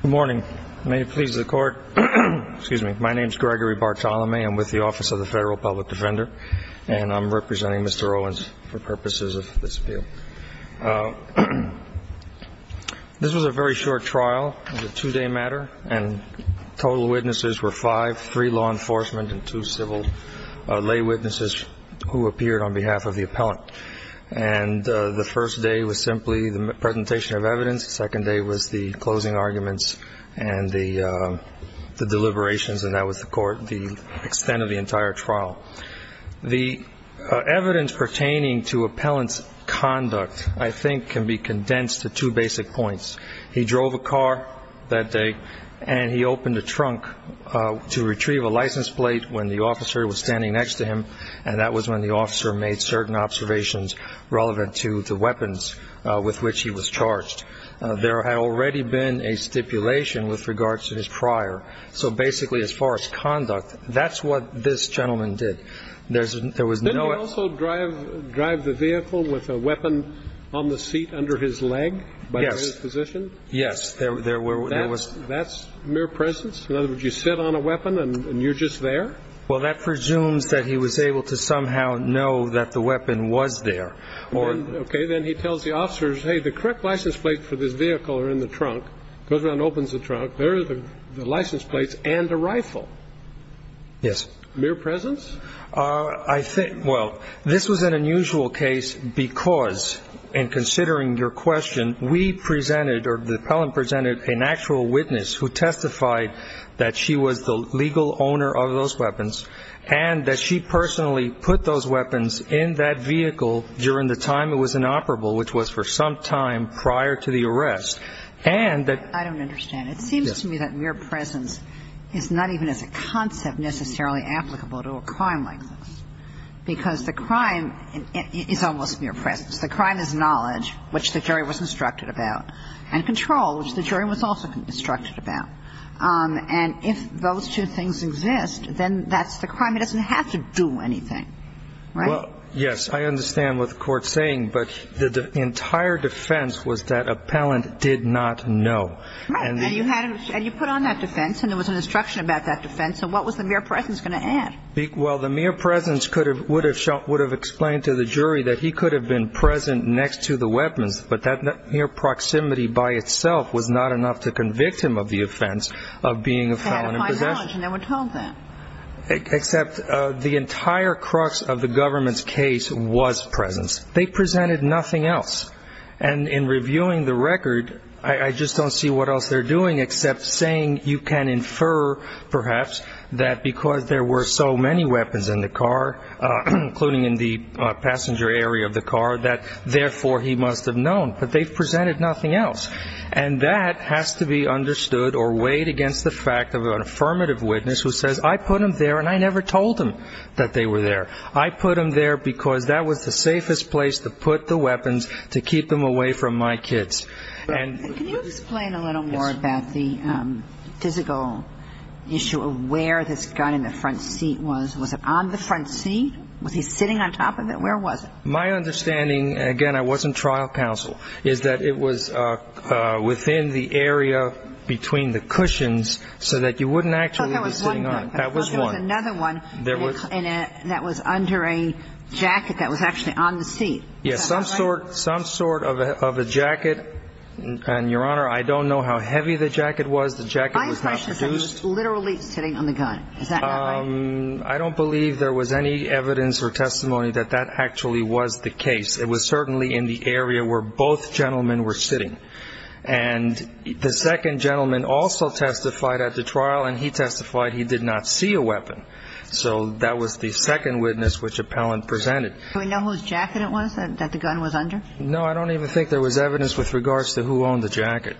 Good morning. May it please the Court. Excuse me. My name is Gregory Bartolome. I'm with the Office of the Federal Public Defender. And I'm representing Mr. Owens for purposes of this appeal. This was a very short trial. It was a two-day matter. And total witnesses were five, three law enforcement and two civil lay witnesses who appeared on behalf of the appellant. And the first day was simply the presentation of evidence. The second day was the closing arguments and the deliberations. And that was the extent of the entire trial. The evidence pertaining to appellant's conduct, I think, can be condensed to two basic points. He drove a car that day, and he opened a trunk to retrieve a license plate when the officer was standing next to him. And that was when the officer made certain observations relevant to the weapons with which he was charged. There had already been a stipulation with regards to his prior. So basically, as far as conduct, that's what this gentleman did. There was no other ---- Didn't he also drive the vehicle with a weapon on the seat under his leg by his position? Yes. There was ---- That's mere presence? In other words, you sit on a weapon and you're just there? Well, that presumes that he was able to somehow know that the weapon was there. Okay. Then he tells the officers, hey, the correct license plate for this vehicle are in the trunk. Goes around and opens the trunk. There are the license plates and the rifle. Yes. Mere presence? I think ---- well, this was an unusual case because in considering your question, we presented or the appellant presented an actual witness who testified that she was the legal owner of those weapons and that she personally put those weapons in that vehicle during the time it was inoperable, which was for some time prior to the arrest, and that ---- I don't understand. It seems to me that mere presence is not even as a concept necessarily applicable to a crime like this, because the crime is almost mere presence. The crime is knowledge, which the jury was instructed about, and control, which the jury was also instructed about. And if those two things exist, then that's the crime. It doesn't have to do anything, right? Well, yes. I understand what the Court's saying. But the entire defense was that appellant did not know. Right. And you put on that defense and there was an instruction about that defense. So what was the mere presence going to add? Well, the mere presence would have explained to the jury that he could have been present next to the weapons, but that mere proximity by itself was not enough to convict him of the offense of being a felon in possession. He had a fine knowledge, and no one told them. Except the entire crux of the government's case was presence. They presented nothing else. And in reviewing the record, I just don't see what else they're doing except saying you can infer, perhaps, that because there were so many weapons in the car, including in the passenger area of the car, that therefore he must have known. But they presented nothing else. And that has to be understood or weighed against the fact of an affirmative witness who says, I put them there and I never told them that they were there. I put them there because that was the safest place to put the weapons to keep them away from my kids. Can you explain a little more about the physical issue of where this gun in the front seat was? Was it on the front seat? Was he sitting on top of it? Where was it? My understanding, again, I wasn't trial counsel, is that it was within the area between the cushions so that you wouldn't actually be sitting on it. That was one. There was another one that was under a jacket that was actually on the seat. Yes, some sort of a jacket. And, Your Honor, I don't know how heavy the jacket was. The jacket was not used. My impression is that he was literally sitting on the gun. Is that not right? I don't believe there was any evidence or testimony that that actually was the case. It was certainly in the area where both gentlemen were sitting. And the second gentleman also testified at the trial, and he testified he did not see a weapon. So that was the second witness which appellant presented. Do we know whose jacket it was that the gun was under? No. I don't even think there was evidence with regards to who owned the jacket.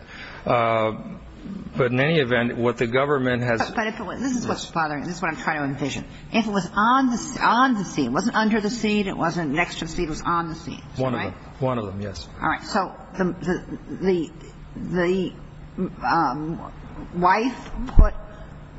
But in any event, what the government has ---- But this is what's bothering me. This is what I'm trying to envision. If it was on the seat, it wasn't under the seat, it wasn't next to the seat, it was on the seat. One of them. One of them, yes. All right. So the wife put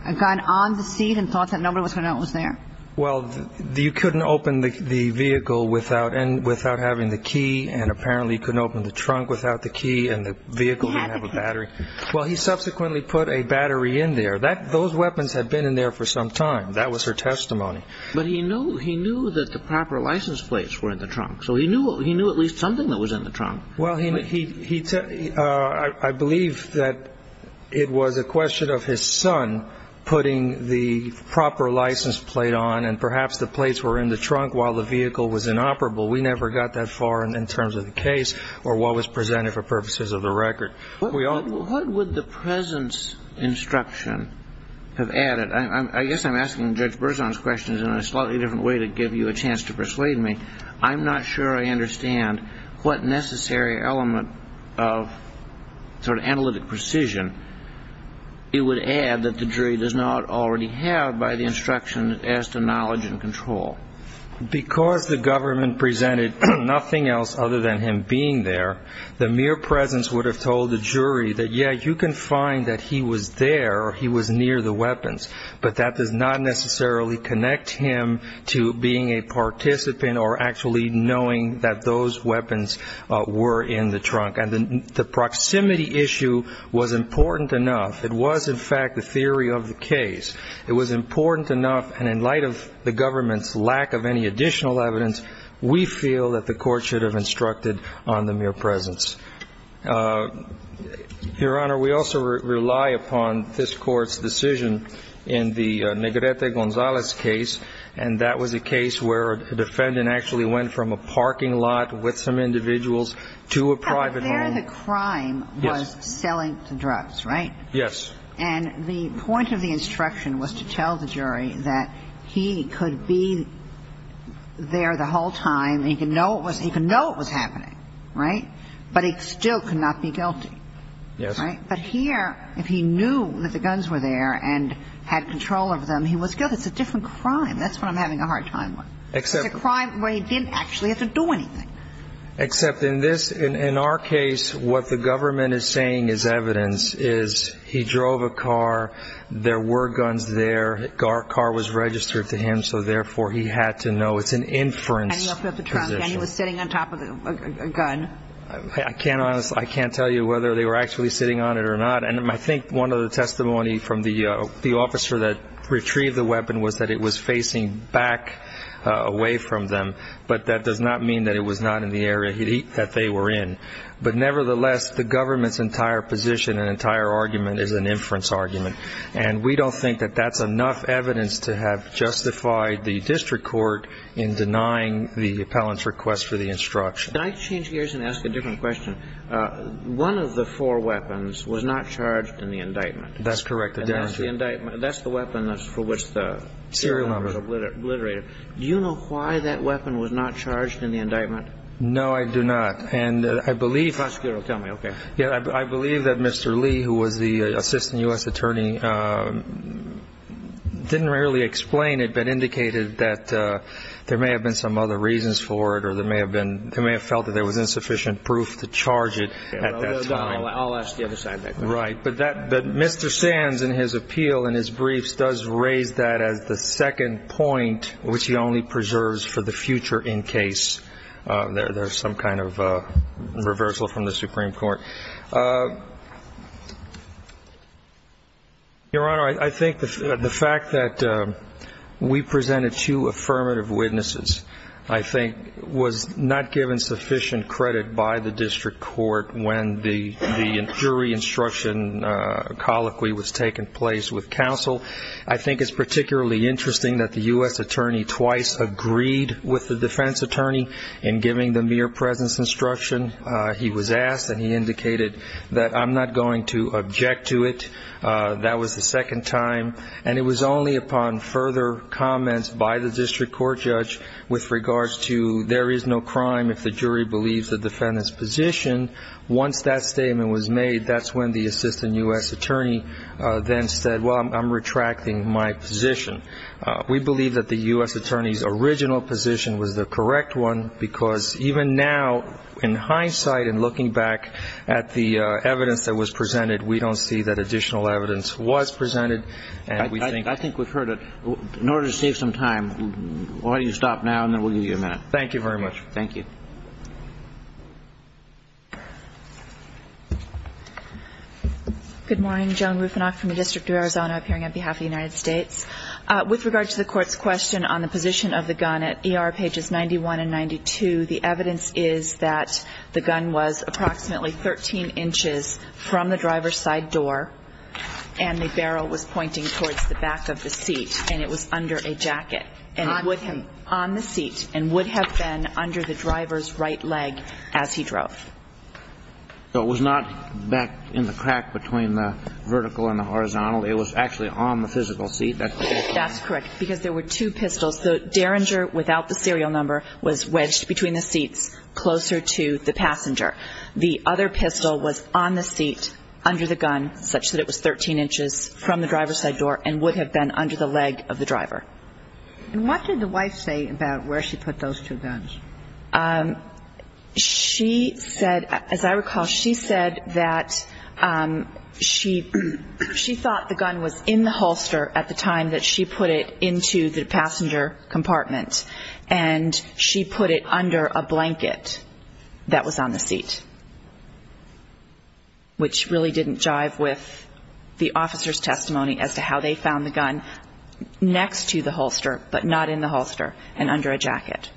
a gun on the seat and thought that nobody was going to know it was there? Well, you couldn't open the vehicle without having the key, and apparently you couldn't open the trunk without the key, and the vehicle didn't have a battery. Well, he subsequently put a battery in there. Those weapons had been in there for some time. That was her testimony. But he knew that the proper license plates were in the trunk. So he knew at least something that was in the trunk. Well, I believe that it was a question of his son putting the proper license plate on and perhaps the plates were in the trunk while the vehicle was inoperable. We never got that far in terms of the case or what was presented for purposes of the record. What would the presence instruction have added? I guess I'm asking Judge Berzon's questions in a slightly different way to give you a chance to persuade me. I'm not sure I understand what necessary element of sort of analytic precision he would add that the jury does not already have by the instruction as to knowledge and control. Because the government presented nothing else other than him being there, the mere presence would have told the jury that, yeah, you can find that he was there, he was near the weapons, but that does not necessarily connect him to being a participant or actually knowing that those weapons were in the trunk. And the proximity issue was important enough. It was, in fact, the theory of the case. It was important enough, and in light of the government's lack of any additional evidence, we feel that the court should have instructed on the mere presence. Your Honor, we also rely upon this Court's decision in the Negrete Gonzalez case, and that was a case where a defendant actually went from a parking lot with some individuals to a private home. But there the crime was selling the drugs, right? Yes. And the point of the instruction was to tell the jury that he could be there the whole time, he could know it was happening, right? But he still could not be guilty. Yes. Right? But here, if he knew that the guns were there and had control of them, he was guilty. It's a different crime. That's what I'm having a hard time with. It's a crime where he didn't actually have to do anything. Except in this, in our case, what the government is saying is evidence is he drove a car, there were guns there, our car was registered to him, so therefore he had to know. It's an inference position. And he was sitting on top of a gun. I can't tell you whether they were actually sitting on it or not. And I think one of the testimony from the officer that retrieved the weapon was that it was facing back away from them, but that does not mean that it was not in the area that they were in. But nevertheless, the government's entire position and entire argument is an inference argument, and we don't think that that's enough evidence to have justified the district court in denying the appellant's request for the instruction. Can I change gears and ask a different question? One of the four weapons was not charged in the indictment. That's correct. That's the weapon for which the serial number was obliterated. Do you know why that weapon was not charged in the indictment? No, I do not. And I believe that Mr. Lee, who was the assistant U.S. attorney, didn't really explain it, but indicated that there may have been some other reasons for it or they may have felt that there was insufficient proof to charge it at that time. I'll ask the other side of that question. Right. But Mr. Sands in his appeal in his briefs does raise that as the second point, which he only preserves for the future in case there's some kind of reversal from the Supreme Court. Your Honor, I think the fact that we presented two affirmative witnesses, I think, was not given sufficient credit by the district court when the jury instruction colloquy was taking place with counsel. I think it's particularly interesting that the U.S. attorney twice agreed with the defense attorney in giving the mere presence instruction. He was asked and he indicated that I'm not going to object to it. That was the second time. And it was only upon further comments by the district court judge with regards to there is no crime if the jury believes the defendant's position, once that statement was made, that's when the assistant U.S. attorney then said, well, I'm retracting my position. We believe that the U.S. attorney's original position was the correct one because even now, in hindsight and looking back at the evidence that was presented, we don't see that additional evidence was presented. I think we've heard it. In order to save some time, why don't you stop now and then we'll give you a minute. Thank you very much. Thank you. Good morning. Joan Rufinock from the District of Arizona appearing on behalf of the United States. With regard to the court's question on the position of the gun at ER pages 91 and 92, the evidence is that the gun was approximately 13 inches from the driver's side door and the barrel was pointing towards the back of the seat and it was under a jacket and it would have been on the seat and would have been under the driver's right leg as he drove. So it was not back in the crack between the vertical and the horizontal. It was actually on the physical seat. That's correct because there were two pistols. The Derringer, without the serial number, was wedged between the seats closer to the passenger. The other pistol was on the seat under the gun such that it was 13 inches from the driver's side door and would have been under the leg of the driver. And what did the wife say about where she put those two guns? She said, as I recall, she said that she thought the gun was in the holster at the time that she put it into the passenger compartment and she put it under a blanket that was on the seat, which really didn't jive with the officer's testimony as to how they found the gun next to the holster but not in the holster and under a jacket.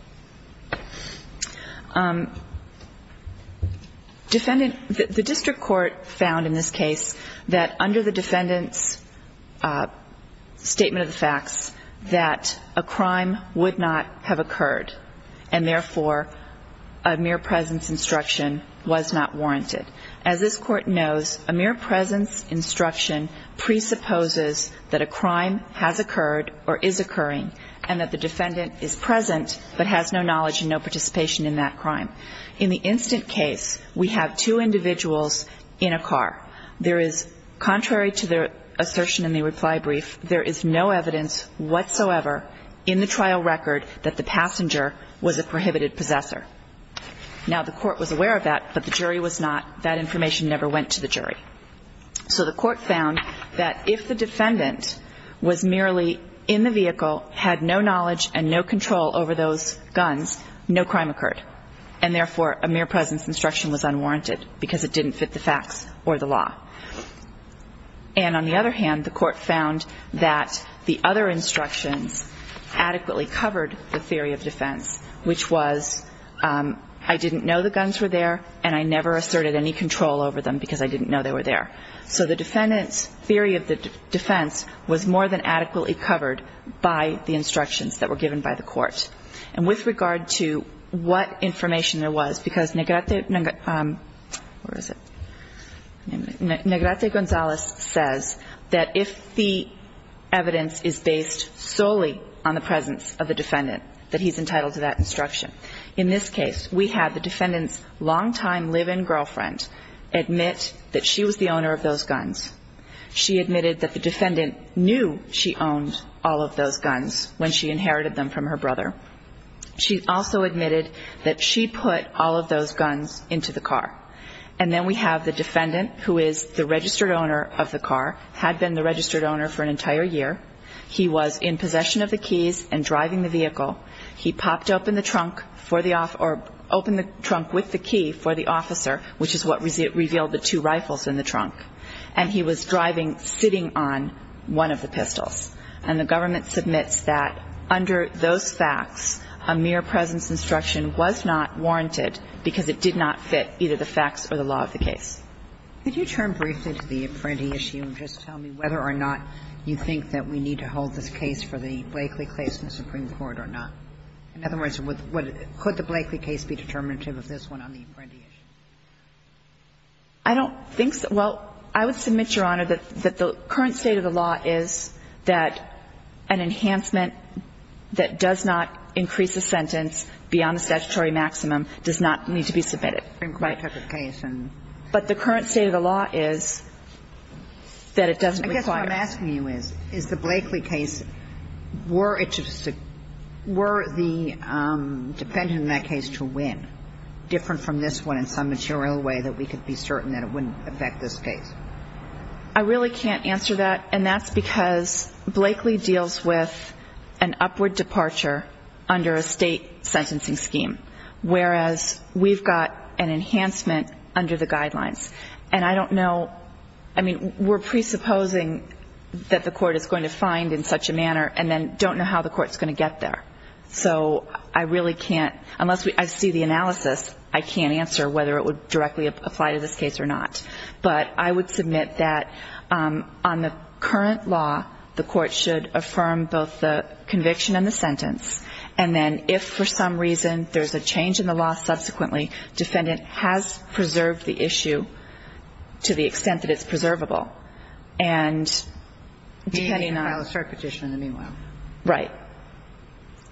The district court found in this case that under the defendant's statement of the facts that a crime would not have occurred and therefore a mere presence instruction was not warranted. As this Court knows, a mere presence instruction presupposes that a crime has occurred or is occurring and that the defendant is present but has no knowledge and no participation in that crime. In the instant case, we have two individuals in a car. There is, contrary to the assertion in the reply brief, there is no evidence whatsoever in the trial record that the passenger was a prohibited possessor. Now, the Court was aware of that, but the jury was not. That information never went to the jury. So the Court found that if the defendant was merely in the vehicle, had no knowledge and no control over those guns, no crime occurred and therefore a mere presence instruction was unwarranted because it didn't fit the facts or the law. And on the other hand, the Court found that the other instructions adequately covered the theory of defense, which was I didn't know the guns were there and I never asserted any control over them because I didn't know they were there. So the defendant's theory of the defense was more than adequately covered by the instructions that were given by the Court. And with regard to what information there was, because Negrete Gonzales says that if the evidence is based solely on the presence of the defendant, that he's entitled to that instruction. In this case, we have the defendant's longtime live-in girlfriend admit that she was the owner of those guns. She admitted that the defendant knew she owned all of those guns when she inherited them from her brother. She also admitted that she put all of those guns into the car. And then we have the defendant, who is the registered owner of the car, had been the registered owner for an entire year. He was in possession of the keys and driving the vehicle. He popped open the trunk for the officer or opened the trunk with the key for the officer, which is what revealed the two rifles in the trunk. And he was driving, sitting on one of the pistols. And the government submits that under those facts, a mere presence instruction was not warranted because it did not fit either the facts or the law of the case. Could you turn briefly to the Apprendi issue and just tell me whether or not you think that we need to hold this case for the Blakely case in the Supreme Court or not? In other words, would the – could the Blakely case be determinative of this one on the Apprendi issue? I don't think so. Well, I would submit, Your Honor, that the current state of the law is that an enhancement that does not increase a sentence beyond a statutory maximum does not need to be submitted. Right. But the current state of the law is that it doesn't require it. I guess what I'm asking you is, is the Blakely case, were it to – were the defendant in that case to win, different from this one in some material way that we could be certain that it wouldn't affect this case? I really can't answer that. And that's because Blakely deals with an upward departure under a State sentencing scheme, whereas we've got an enhancement under the guidelines. And I don't know – I mean, we're presupposing that the court is going to find in such a manner and then don't know how the court's going to get there. So I really can't – unless I see the analysis, I can't answer whether it would directly apply to this case or not. But I would submit that on the current law, the court should affirm both the conviction and the sentence. And then if for some reason there's a change in the law subsequently, defendant has preserved the issue to the extent that it's preservable. And depending on – They can file a cert petition in the meanwhile. Right.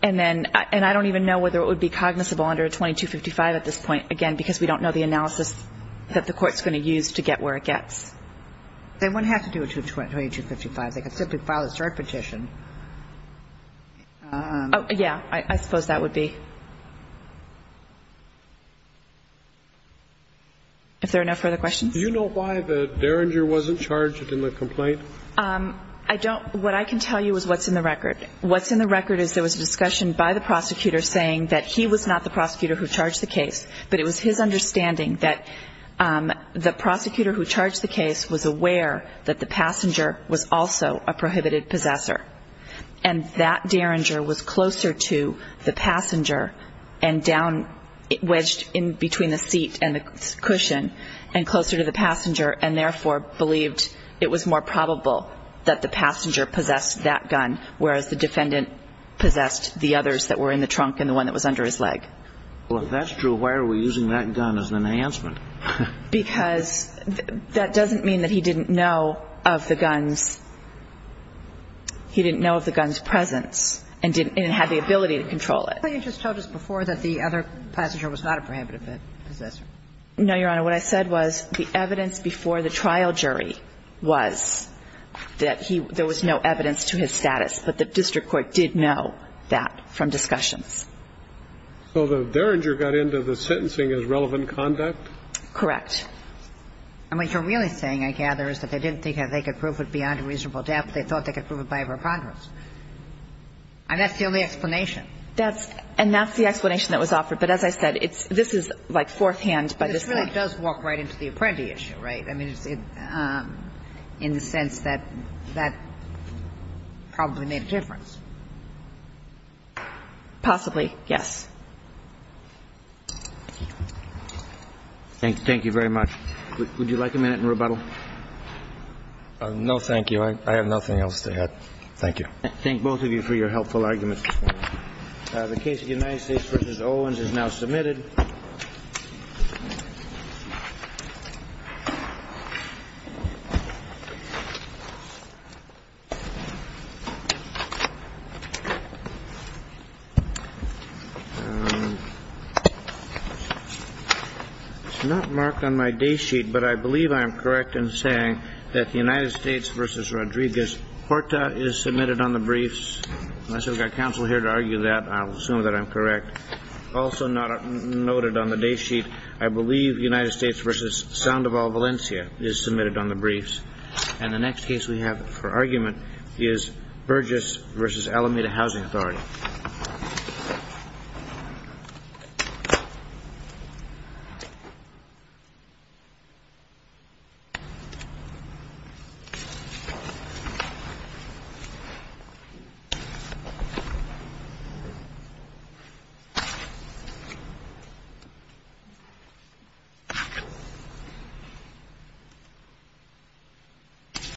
And then – and I don't even know whether it would be cognizable under a 2255 at this point, again, because we don't know the analysis that the court's going to use to get where it gets. They wouldn't have to do a 2255. They could simply file a cert petition. Oh, yeah. I suppose that would be. If there are no further questions? Do you know why the derringer wasn't charged in the complaint? I don't – what I can tell you is what's in the record. What's in the record is there was a discussion by the prosecutor saying that he was not the prosecutor who charged the case, but it was his understanding that the prosecutor who charged the case was aware that the passenger was also a prohibited possessor. And that derringer was closer to the passenger and down – wedged in between the seat and the cushion, and closer to the passenger, and therefore believed it was more probable that the passenger possessed that gun, whereas the defendant possessed the others that were in the trunk and the one that was under his leg. Well, if that's true, why are we using that gun as an enhancement? Because that doesn't mean that he didn't know of the gun's – he didn't know of the gun's presence and didn't have the ability to control it. But you just told us before that the other passenger was not a prohibited possessor. No, Your Honor. What I said was the evidence before the trial jury was that he – there was no evidence to his status, but the district court did know that from discussions. So the derringer got into the sentencing as relevant conduct? Correct. And what you're really saying, I gather, is that they didn't think that they could prove it beyond a reasonable doubt, but they thought they could prove it by a preponderance. And that's the only explanation. That's – and that's the explanation that was offered. But as I said, it's – this is, like, fourthhand by this point. This really does walk right into the Apprenti issue, right? I mean, in the sense that that probably made a difference. Possibly, yes. Thank you very much. Would you like a minute in rebuttal? No, thank you. I have nothing else to add. Thank you. I thank both of you for your helpful arguments this morning. The case of the United States v. Owens is now submitted. It's not marked on my day sheet, but I believe I am correct in saying that the United States v. Rodriguez-Horta is submitted on the briefs. Unless we've got counsel here to argue that, I'll assume that I'm correct. Also not noted on the day sheet, I believe United States v. Sandoval Valencia is submitted on the briefs. And the next case we have for argument is Burgess v. Alameda Housing Authority. Thank you.